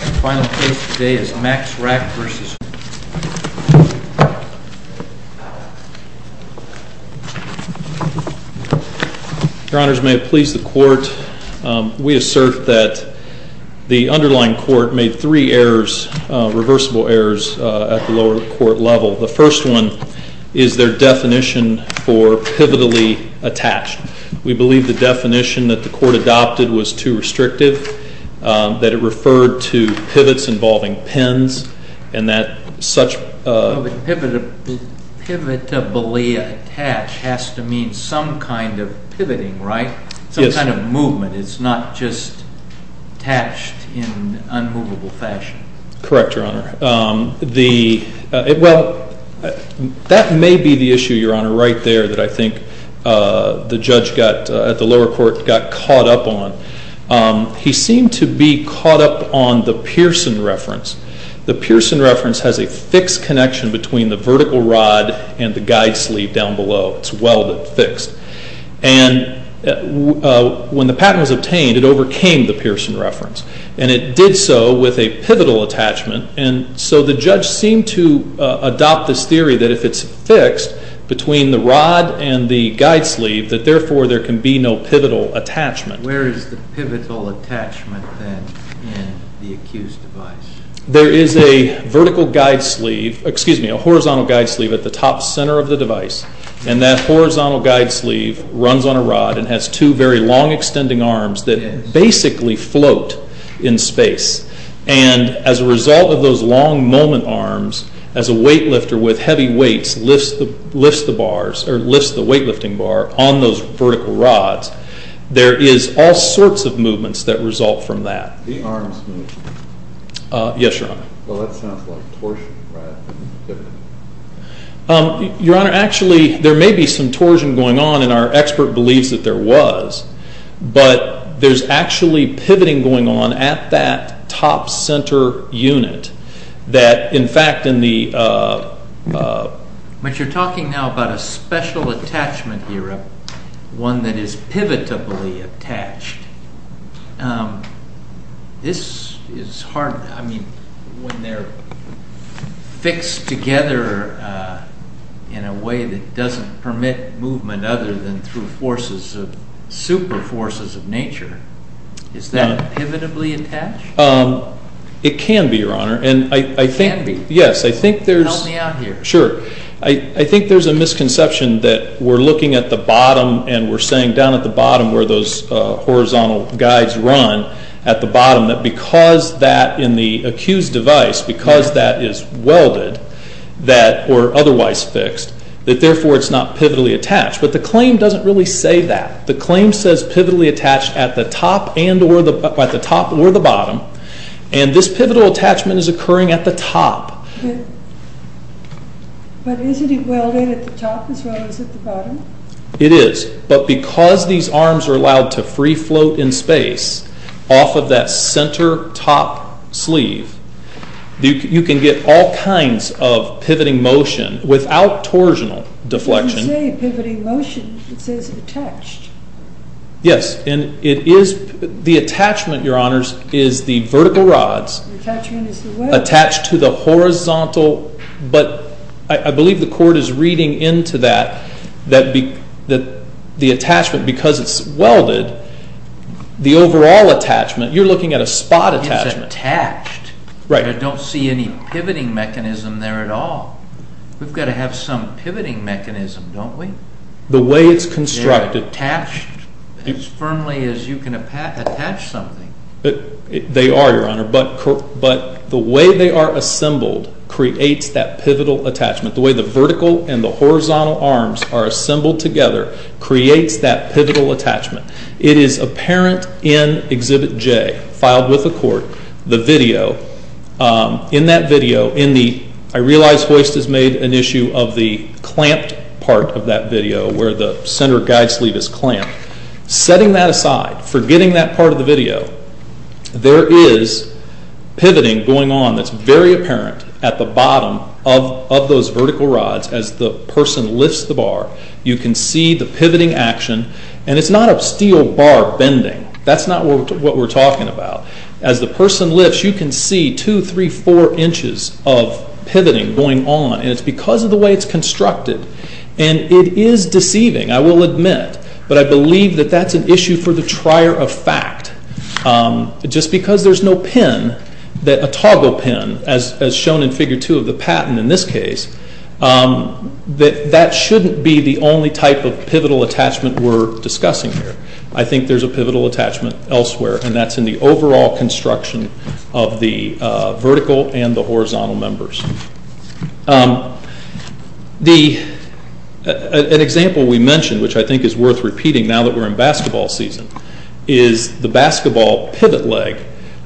Your honors, may it please the court, we assert that the underlying court made three errors, reversible errors at the lower court level. The first one is their definition for pivotally attached. We believe the definition that the court adopted was too restrictive, that it referred to pivots involving pins, and that such a... Pivotably attached has to mean some kind of pivoting, right? Yes. Some kind of movement, it's not just attached in unmovable fashion. Correct, your honor. Well, that may be the issue, your honor, right there that I think the judge at the lower court got caught up on. He seemed to be caught up on the Pearson reference. The Pearson reference has a fixed connection between the vertical rod and the guide sleeve down below. It's welded fixed. And when the patent was obtained, it overcame the Pearson reference. And it did so with a pivotal attachment. And so the judge seemed to adopt this theory that if it's fixed between the rod and the guide sleeve, that therefore there can be no pivotal attachment. Where is the pivotal attachment then in the accused's device? There is a vertical guide sleeve, excuse me, a horizontal guide sleeve at the top center of the device. And that horizontal guide sleeve runs on a rod and has two very long extending arms that basically float in space. And as a result of those long moment arms, as a weight lifter with heavy weights lifts the bars, or lifts the weight lifting bar on those vertical rods, there is all sorts of movements that result from that. The arms move. Yes, your honor. Well, that sounds like torsion rather than pivoting. Your honor, actually, there may be some torsion going on, and our expert believes that there was. But there's actually pivoting going on at that top center unit. That, in fact, in the... But you're talking now about a special attachment here, one that is pivotably attached. This is hard. I mean, when they're fixed together in a way that doesn't permit movement other than through forces, super forces of nature, is that pivotably attached? It can be, your honor. It can be? Yes, I think there's... Tell me out here. Sure. I think there's a misconception that we're looking at the bottom and we're saying down at the bottom where those horizontal guides run at the bottom, that because that in the accused device, because that is welded or otherwise fixed, that therefore it's not pivotally attached. But the claim doesn't really say that. The claim says pivotally attached at the top or the bottom, and this pivotal attachment is occurring at the top. But isn't it welded at the top as well as at the bottom? It is, but because these arms are allowed to free float in space off of that center top sleeve, you can get all kinds of pivoting motion without torsional deflection. When you say pivoting motion, it says attached. Yes, and it is. The attachment, your honors, is the vertical rods attached to the horizontal. But I believe the court is reading into that, that the attachment, because it's welded, the overall attachment, you're looking at a spot attachment. It's attached, but I don't see any pivoting mechanism there at all. We've got to have some pivoting mechanism, don't we? The way it's constructed. They're not attached as firmly as you can attach something. They are, your honor, but the way they are assembled creates that pivotal attachment. The way the vertical and the horizontal arms are assembled together creates that pivotal attachment. It is apparent in Exhibit J, filed with the court, the video. In that video, I realize Hoist has made an issue of the clamped part of that video where the center guide sleeve is clamped. Setting that aside, forgetting that part of the video, there is pivoting going on that's very apparent at the bottom of those vertical rods. As the person lifts the bar, you can see the pivoting action. It's not a steel bar bending. That's not what we're talking about. As the person lifts, you can see 2, 3, 4 inches of pivoting going on. It's because of the way it's constructed. It is deceiving, I will admit, but I believe that that's an issue for the trier of fact. Just because there's no pin, a toggle pin, as shown in Figure 2 of the patent in this case, that shouldn't be the only type of pivotal attachment we're discussing here. I think there's a pivotal attachment elsewhere, and that's in the overall construction of the vertical and the horizontal members. An example we mentioned, which I think is worth repeating now that we're in basketball season, is the basketball pivot leg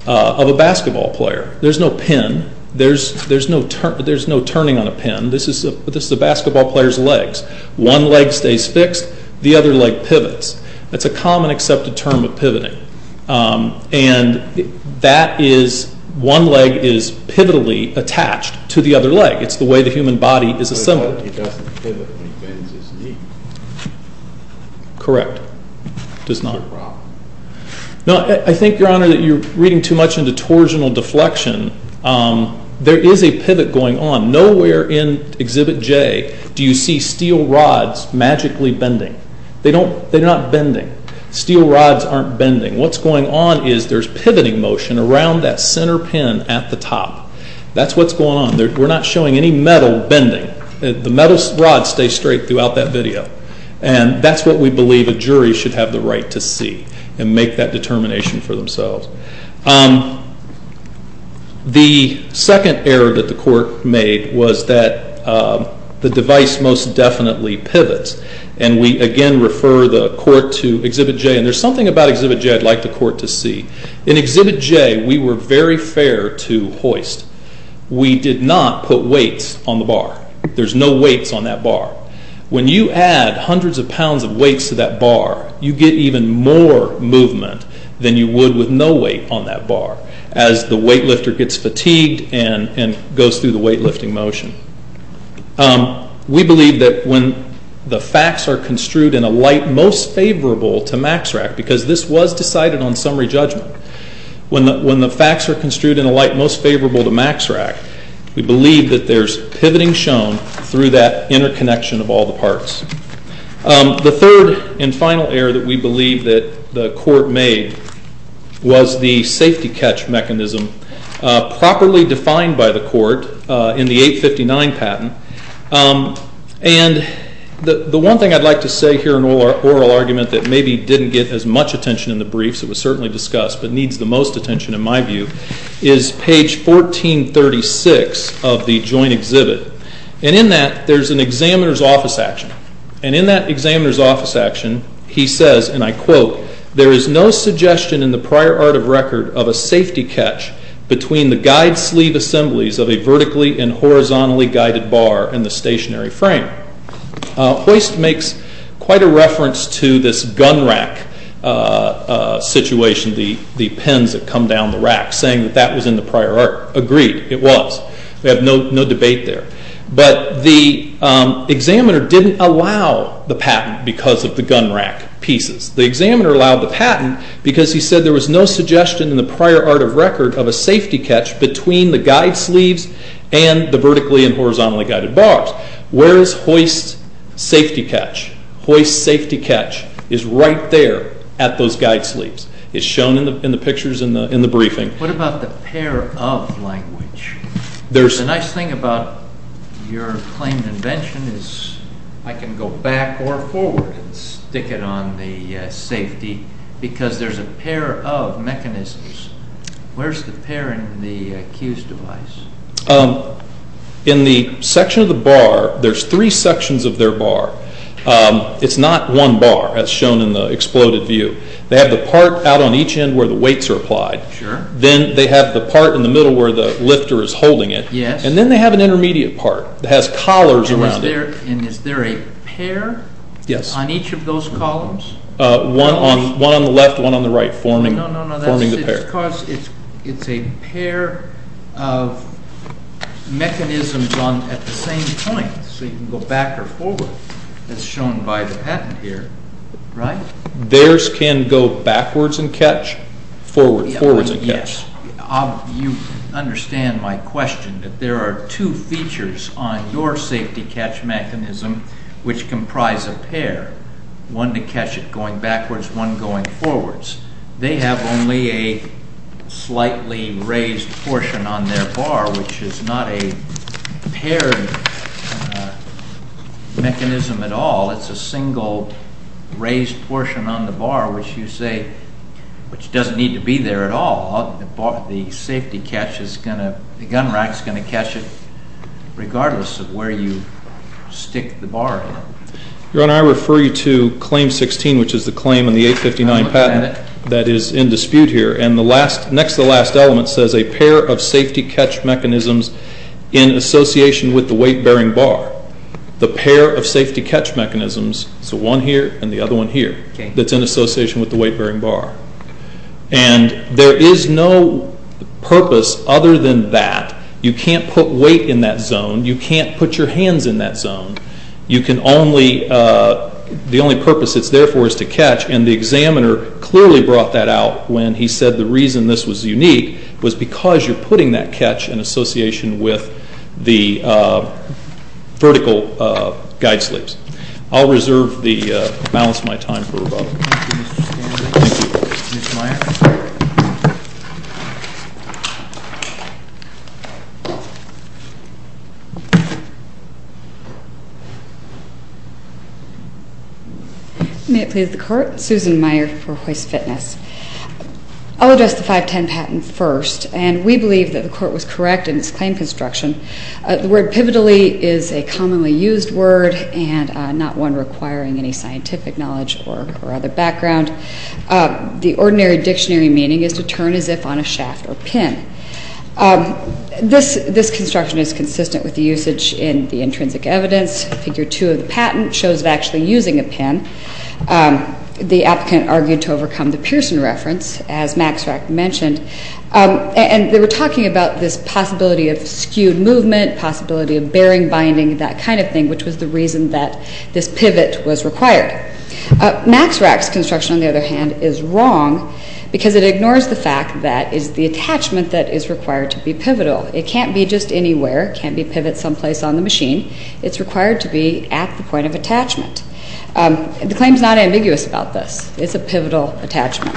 of a basketball player. There's no pin. There's no turning on a pin. This is a basketball player's legs. One leg stays fixed. The other leg pivots. That's a common accepted term of pivoting. That is, one leg is pivotally attached to the other leg. It's the way the human body is assembled. It doesn't pivot when he bends his knee. Correct. It does not. I think, Your Honor, that you're reading too much into torsional deflection. There is a pivot going on. Nowhere in Exhibit J do you see steel rods magically bending. They're not bending. Steel rods aren't bending. What's going on is there's pivoting motion around that center pin at the top. That's what's going on. We're not showing any metal bending. The metal rods stay straight throughout that video, and that's what we believe a jury should have the right to see and make that determination for themselves. The second error that the court made was that the device most definitely pivots, and we again refer the court to Exhibit J. There's something about Exhibit J I'd like the court to see. In Exhibit J, we were very fair to hoist. We did not put weights on the bar. There's no weights on that bar. When you add hundreds of pounds of weights to that bar, you get even more movement than you would with no weight on that bar as the weightlifter gets fatigued and goes through the weightlifting motion. We believe that when the facts are construed in a light most favorable to MAXRAC, because this was decided on summary judgment, when the facts are construed in a light most favorable to MAXRAC, we believe that there's pivoting shown through that interconnection of all the parts. The third and final error that we believe that the court made was the safety catch mechanism properly defined by the court in the 859 patent. And the one thing I'd like to say here in oral argument that maybe didn't get as much attention in the briefs, it was certainly discussed, but needs the most attention in my view, is page 1436 of the joint exhibit. And in that, there's an examiner's office action. And in that examiner's office action, he says, and I quote, there is no suggestion in the prior art of record of a safety catch between the guide sleeve assemblies of a vertically and horizontally guided bar and the stationary frame. Hoist makes quite a reference to this gun rack situation, the pins that come down the rack, saying that that was in the prior art. Agreed, it was. We have no debate there. But the examiner didn't allow the patent because of the gun rack pieces. The examiner allowed the patent because he said there was no suggestion in the prior art of record of a safety catch between the guide sleeves and the vertically and horizontally guided bars, whereas hoist safety catch, hoist safety catch, is right there at those guide sleeves. It's shown in the pictures in the briefing. What about the pair of language? The nice thing about your claimed invention is I can go back or forward and stick it on the safety because there's a pair of mechanisms. Where's the pair in the Q's device? In the section of the bar, there's three sections of their bar. It's not one bar as shown in the exploded view. They have the part out on each end where the weights are applied. Sure. Then they have the part in the middle where the lifter is holding it. Yes. And then they have an intermediate part that has collars around it. Is there a pair on each of those columns? One on the left, one on the right forming the pair. No, no, no. It's a pair of mechanisms at the same time so you can go back or forward as shown by the patent here, right? Theirs can go backwards and catch, forwards and catch. Yes. You understand my question that there are two features on your safety catch mechanism which comprise a pair, one to catch it going backwards, one going forwards. They have only a slightly raised portion on their bar which is not a paired mechanism at all. It's a single raised portion on the bar which you say doesn't need to be there at all. The safety catch is going to, the gun rack is going to catch it regardless of where you stick the bar in. Your Honor, I refer you to Claim 16 which is the claim in the 859 patent that is in dispute here. And next to the last element says a pair of safety catch mechanisms in association with the weight-bearing bar. The pair of safety catch mechanisms, so one here and the other one here, that's in association with the weight-bearing bar. And there is no purpose other than that. You can't put weight in that zone. You can't put your hands in that zone. You can only, the only purpose it's there for is to catch. And the examiner clearly brought that out when he said the reason this was unique was because you're putting that catch in association with the vertical guide sleeves. I'll reserve the balance of my time for rebuttal. Thank you, Mr. Stanley. Ms. Meyer. May it please the Court. Susan Meyer for Hoist Fitness. I'll address the 510 patent first, and we believe that the Court was correct in its claim construction. The word pivotally is a commonly used word and not one requiring any scientific knowledge or other background. The ordinary dictionary meaning is to turn as if on a shaft or pin. This construction is consistent with the usage in the intrinsic evidence. Figure 2 of the patent shows of actually using a pin. The applicant argued to overcome the Pearson reference, as Max Rack mentioned. And they were talking about this possibility of skewed movement, possibility of bearing binding, that kind of thing, which was the reason that this pivot was required. Max Rack's construction, on the other hand, is wrong because it ignores the fact that it is the attachment that is required to be pivotal. It can't be just anywhere. It can't be pivoted someplace on the machine. It's required to be at the point of attachment. The claim is not ambiguous about this. It's a pivotal attachment.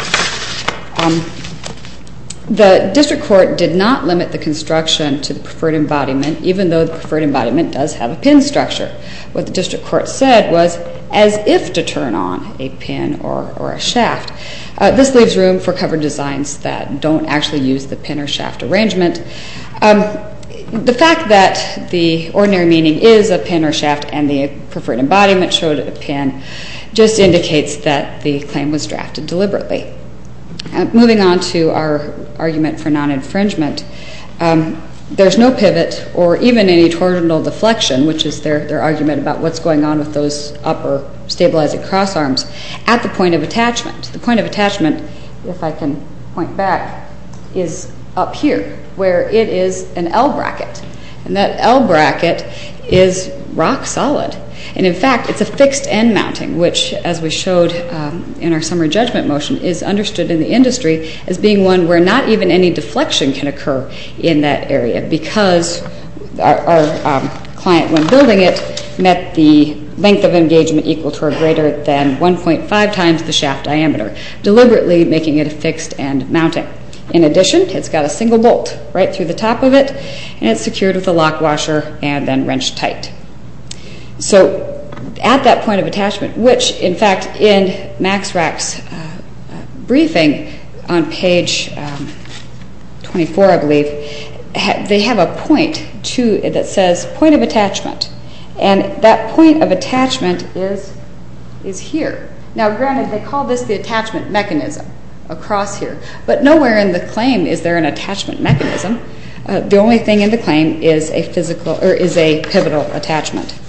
The district court did not limit the construction to the preferred embodiment, even though the preferred embodiment does have a pin structure. What the district court said was as if to turn on a pin or a shaft. This leaves room for covered designs that don't actually use the pin or shaft arrangement. The fact that the ordinary meaning is a pin or shaft and the preferred embodiment showed a pin just indicates that the claim was drafted deliberately. Moving on to our argument for non-infringement, there's no pivot or even any torsional deflection, which is their argument about what's going on with those upper stabilizing cross arms, at the point of attachment. The point of attachment, if I can point back, is up here where it is an L bracket. That L bracket is rock solid. In fact, it's a fixed end mounting, which, as we showed in our summary judgment motion, is understood in the industry as being one where not even any deflection can occur in that area because our client, when building it, met the length of engagement equal to or greater than 1.5 times the shaft diameter, deliberately making it a fixed end mounting. In addition, it's got a single bolt right through the top of it, and it's secured with a lock washer and then wrenched tight. So at that point of attachment, which, in fact, in Max Rack's briefing on page 24, I believe, they have a point that says point of attachment, and that point of attachment is here. Now, granted, they call this the attachment mechanism across here, but nowhere in the claim is there an attachment mechanism. The only thing in the claim is a pivotal attachment.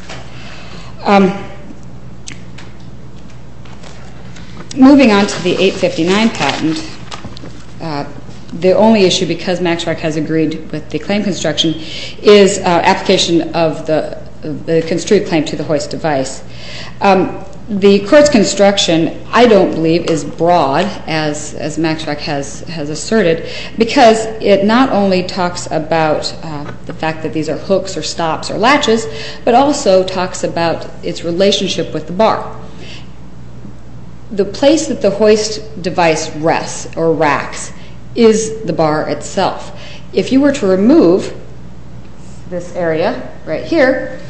Moving on to the 859 patent, the only issue, because Max Rack has agreed with the claim construction, is application of the construed claim to the hoist device. The court's construction, I don't believe, is broad, as Max Rack has asserted, because it not only talks about the fact that these are hooks or stops or latches, but also talks about its relationship with the bar. The place that the hoist device rests, or racks, is the bar itself. If you were to remove this area right here,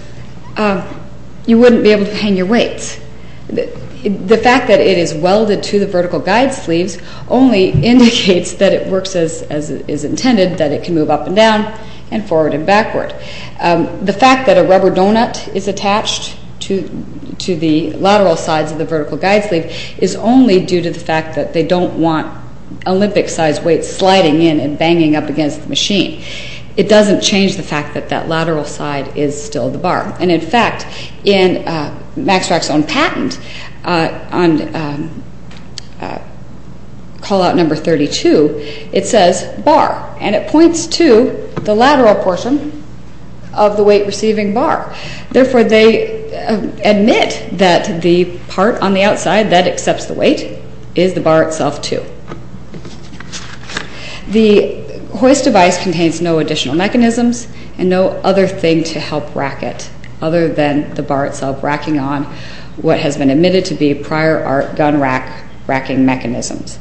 you wouldn't be able to hang your weights. The fact that it is welded to the vertical guide sleeves only indicates that it works as is intended, that it can move up and down and forward and backward. The fact that a rubber donut is attached to the lateral sides of the vertical guide sleeve is only due to the fact that they don't want Olympic-sized weights sliding in and banging up against the machine. It doesn't change the fact that that lateral side is still the bar. And, in fact, in Max Rack's own patent, on call-out number 32, it says bar, and it points to the lateral portion of the weight-receiving bar. Therefore, they admit that the part on the outside that accepts the weight is the bar itself, too. The hoist device contains no additional mechanisms and no other thing to help rack it, other than the bar itself racking on what has been admitted to be prior-art gun-racking mechanisms.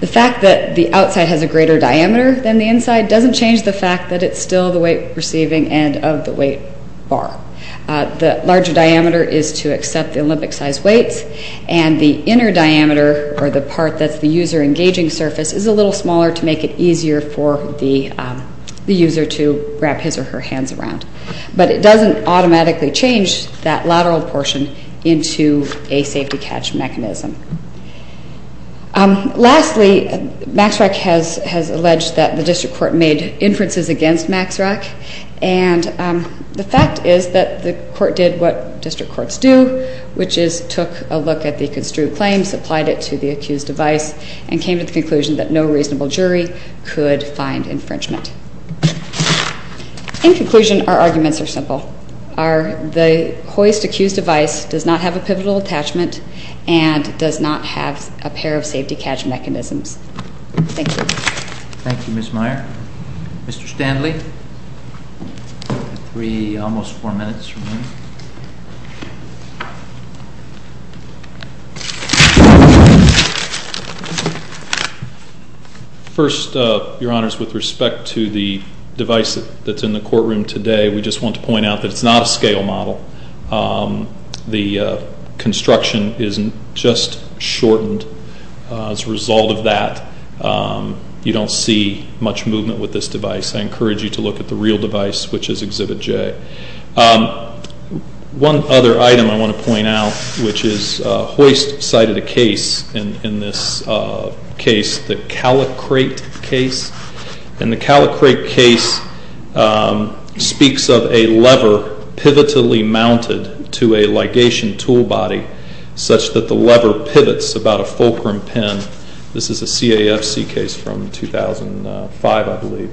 The fact that the outside has a greater diameter than the inside doesn't change the fact that it's still the weight-receiving end of the weight bar. The larger diameter is to accept the Olympic-sized weights, and the inner diameter, or the part that's the user-engaging surface, is a little smaller to make it easier for the user to wrap his or her hands around. But it doesn't automatically change that lateral portion into a safety-catch mechanism. Lastly, Max Rack has alleged that the district court made inferences against Max Rack, and the fact is that the court did what district courts do, which is took a look at the construed claims, applied it to the accused device, and came to the conclusion that no reasonable jury could find infringement. In conclusion, our arguments are simple. The hoist accused device does not have a pivotal attachment and does not have a pair of safety-catch mechanisms. Thank you. Thank you, Ms. Meyer. Mr. Standley, you have three, almost four minutes remaining. First, Your Honors, with respect to the device that's in the courtroom today, we just want to point out that it's not a scale model. The construction is just shortened. As a result of that, you don't see much movement with this device. I encourage you to look at the real device, which is Exhibit J. One other item I want to point out, which is a hoist side of the case in this case, the calicrate case. The calicrate case speaks of a lever pivotally mounted to a ligation tool body such that the lever pivots about a fulcrum pin. This is a CAFC case from 2005, I believe.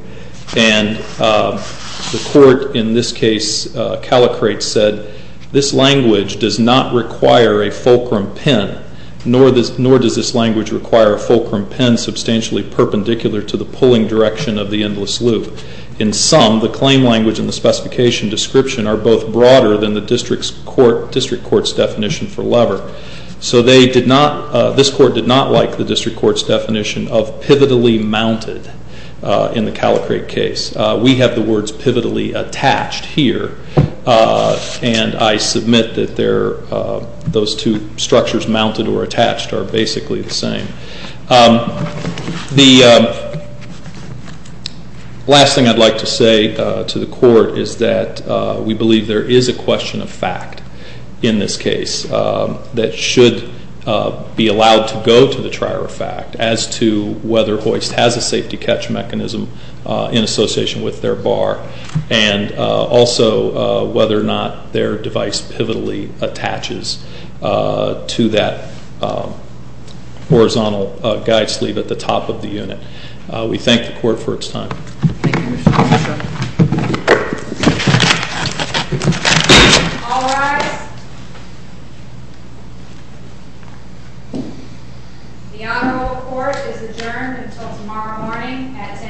And the court in this case calicrate said, this language does not require a fulcrum pin, nor does this language require a fulcrum pin substantially perpendicular to the pulling direction of the endless loop. In sum, the claim language and the specification description are both broader than the district court's definition for lever. So this court did not like the district court's definition of pivotally mounted in the calicrate case. We have the words pivotally attached here, and I submit that those two structures, mounted or attached, are basically the same. The last thing I'd like to say to the court is that we believe there is a question of fact in this case that should be allowed to go to the trier of fact as to whether hoist has a safety catch mechanism in association with their bar, and also whether or not their device pivotally attaches to that horizontal guide sleeve at the top of the unit. We thank the court for its time. All rise. The Honorable Court is adjourned until tomorrow morning at 10 a.m. Thank you.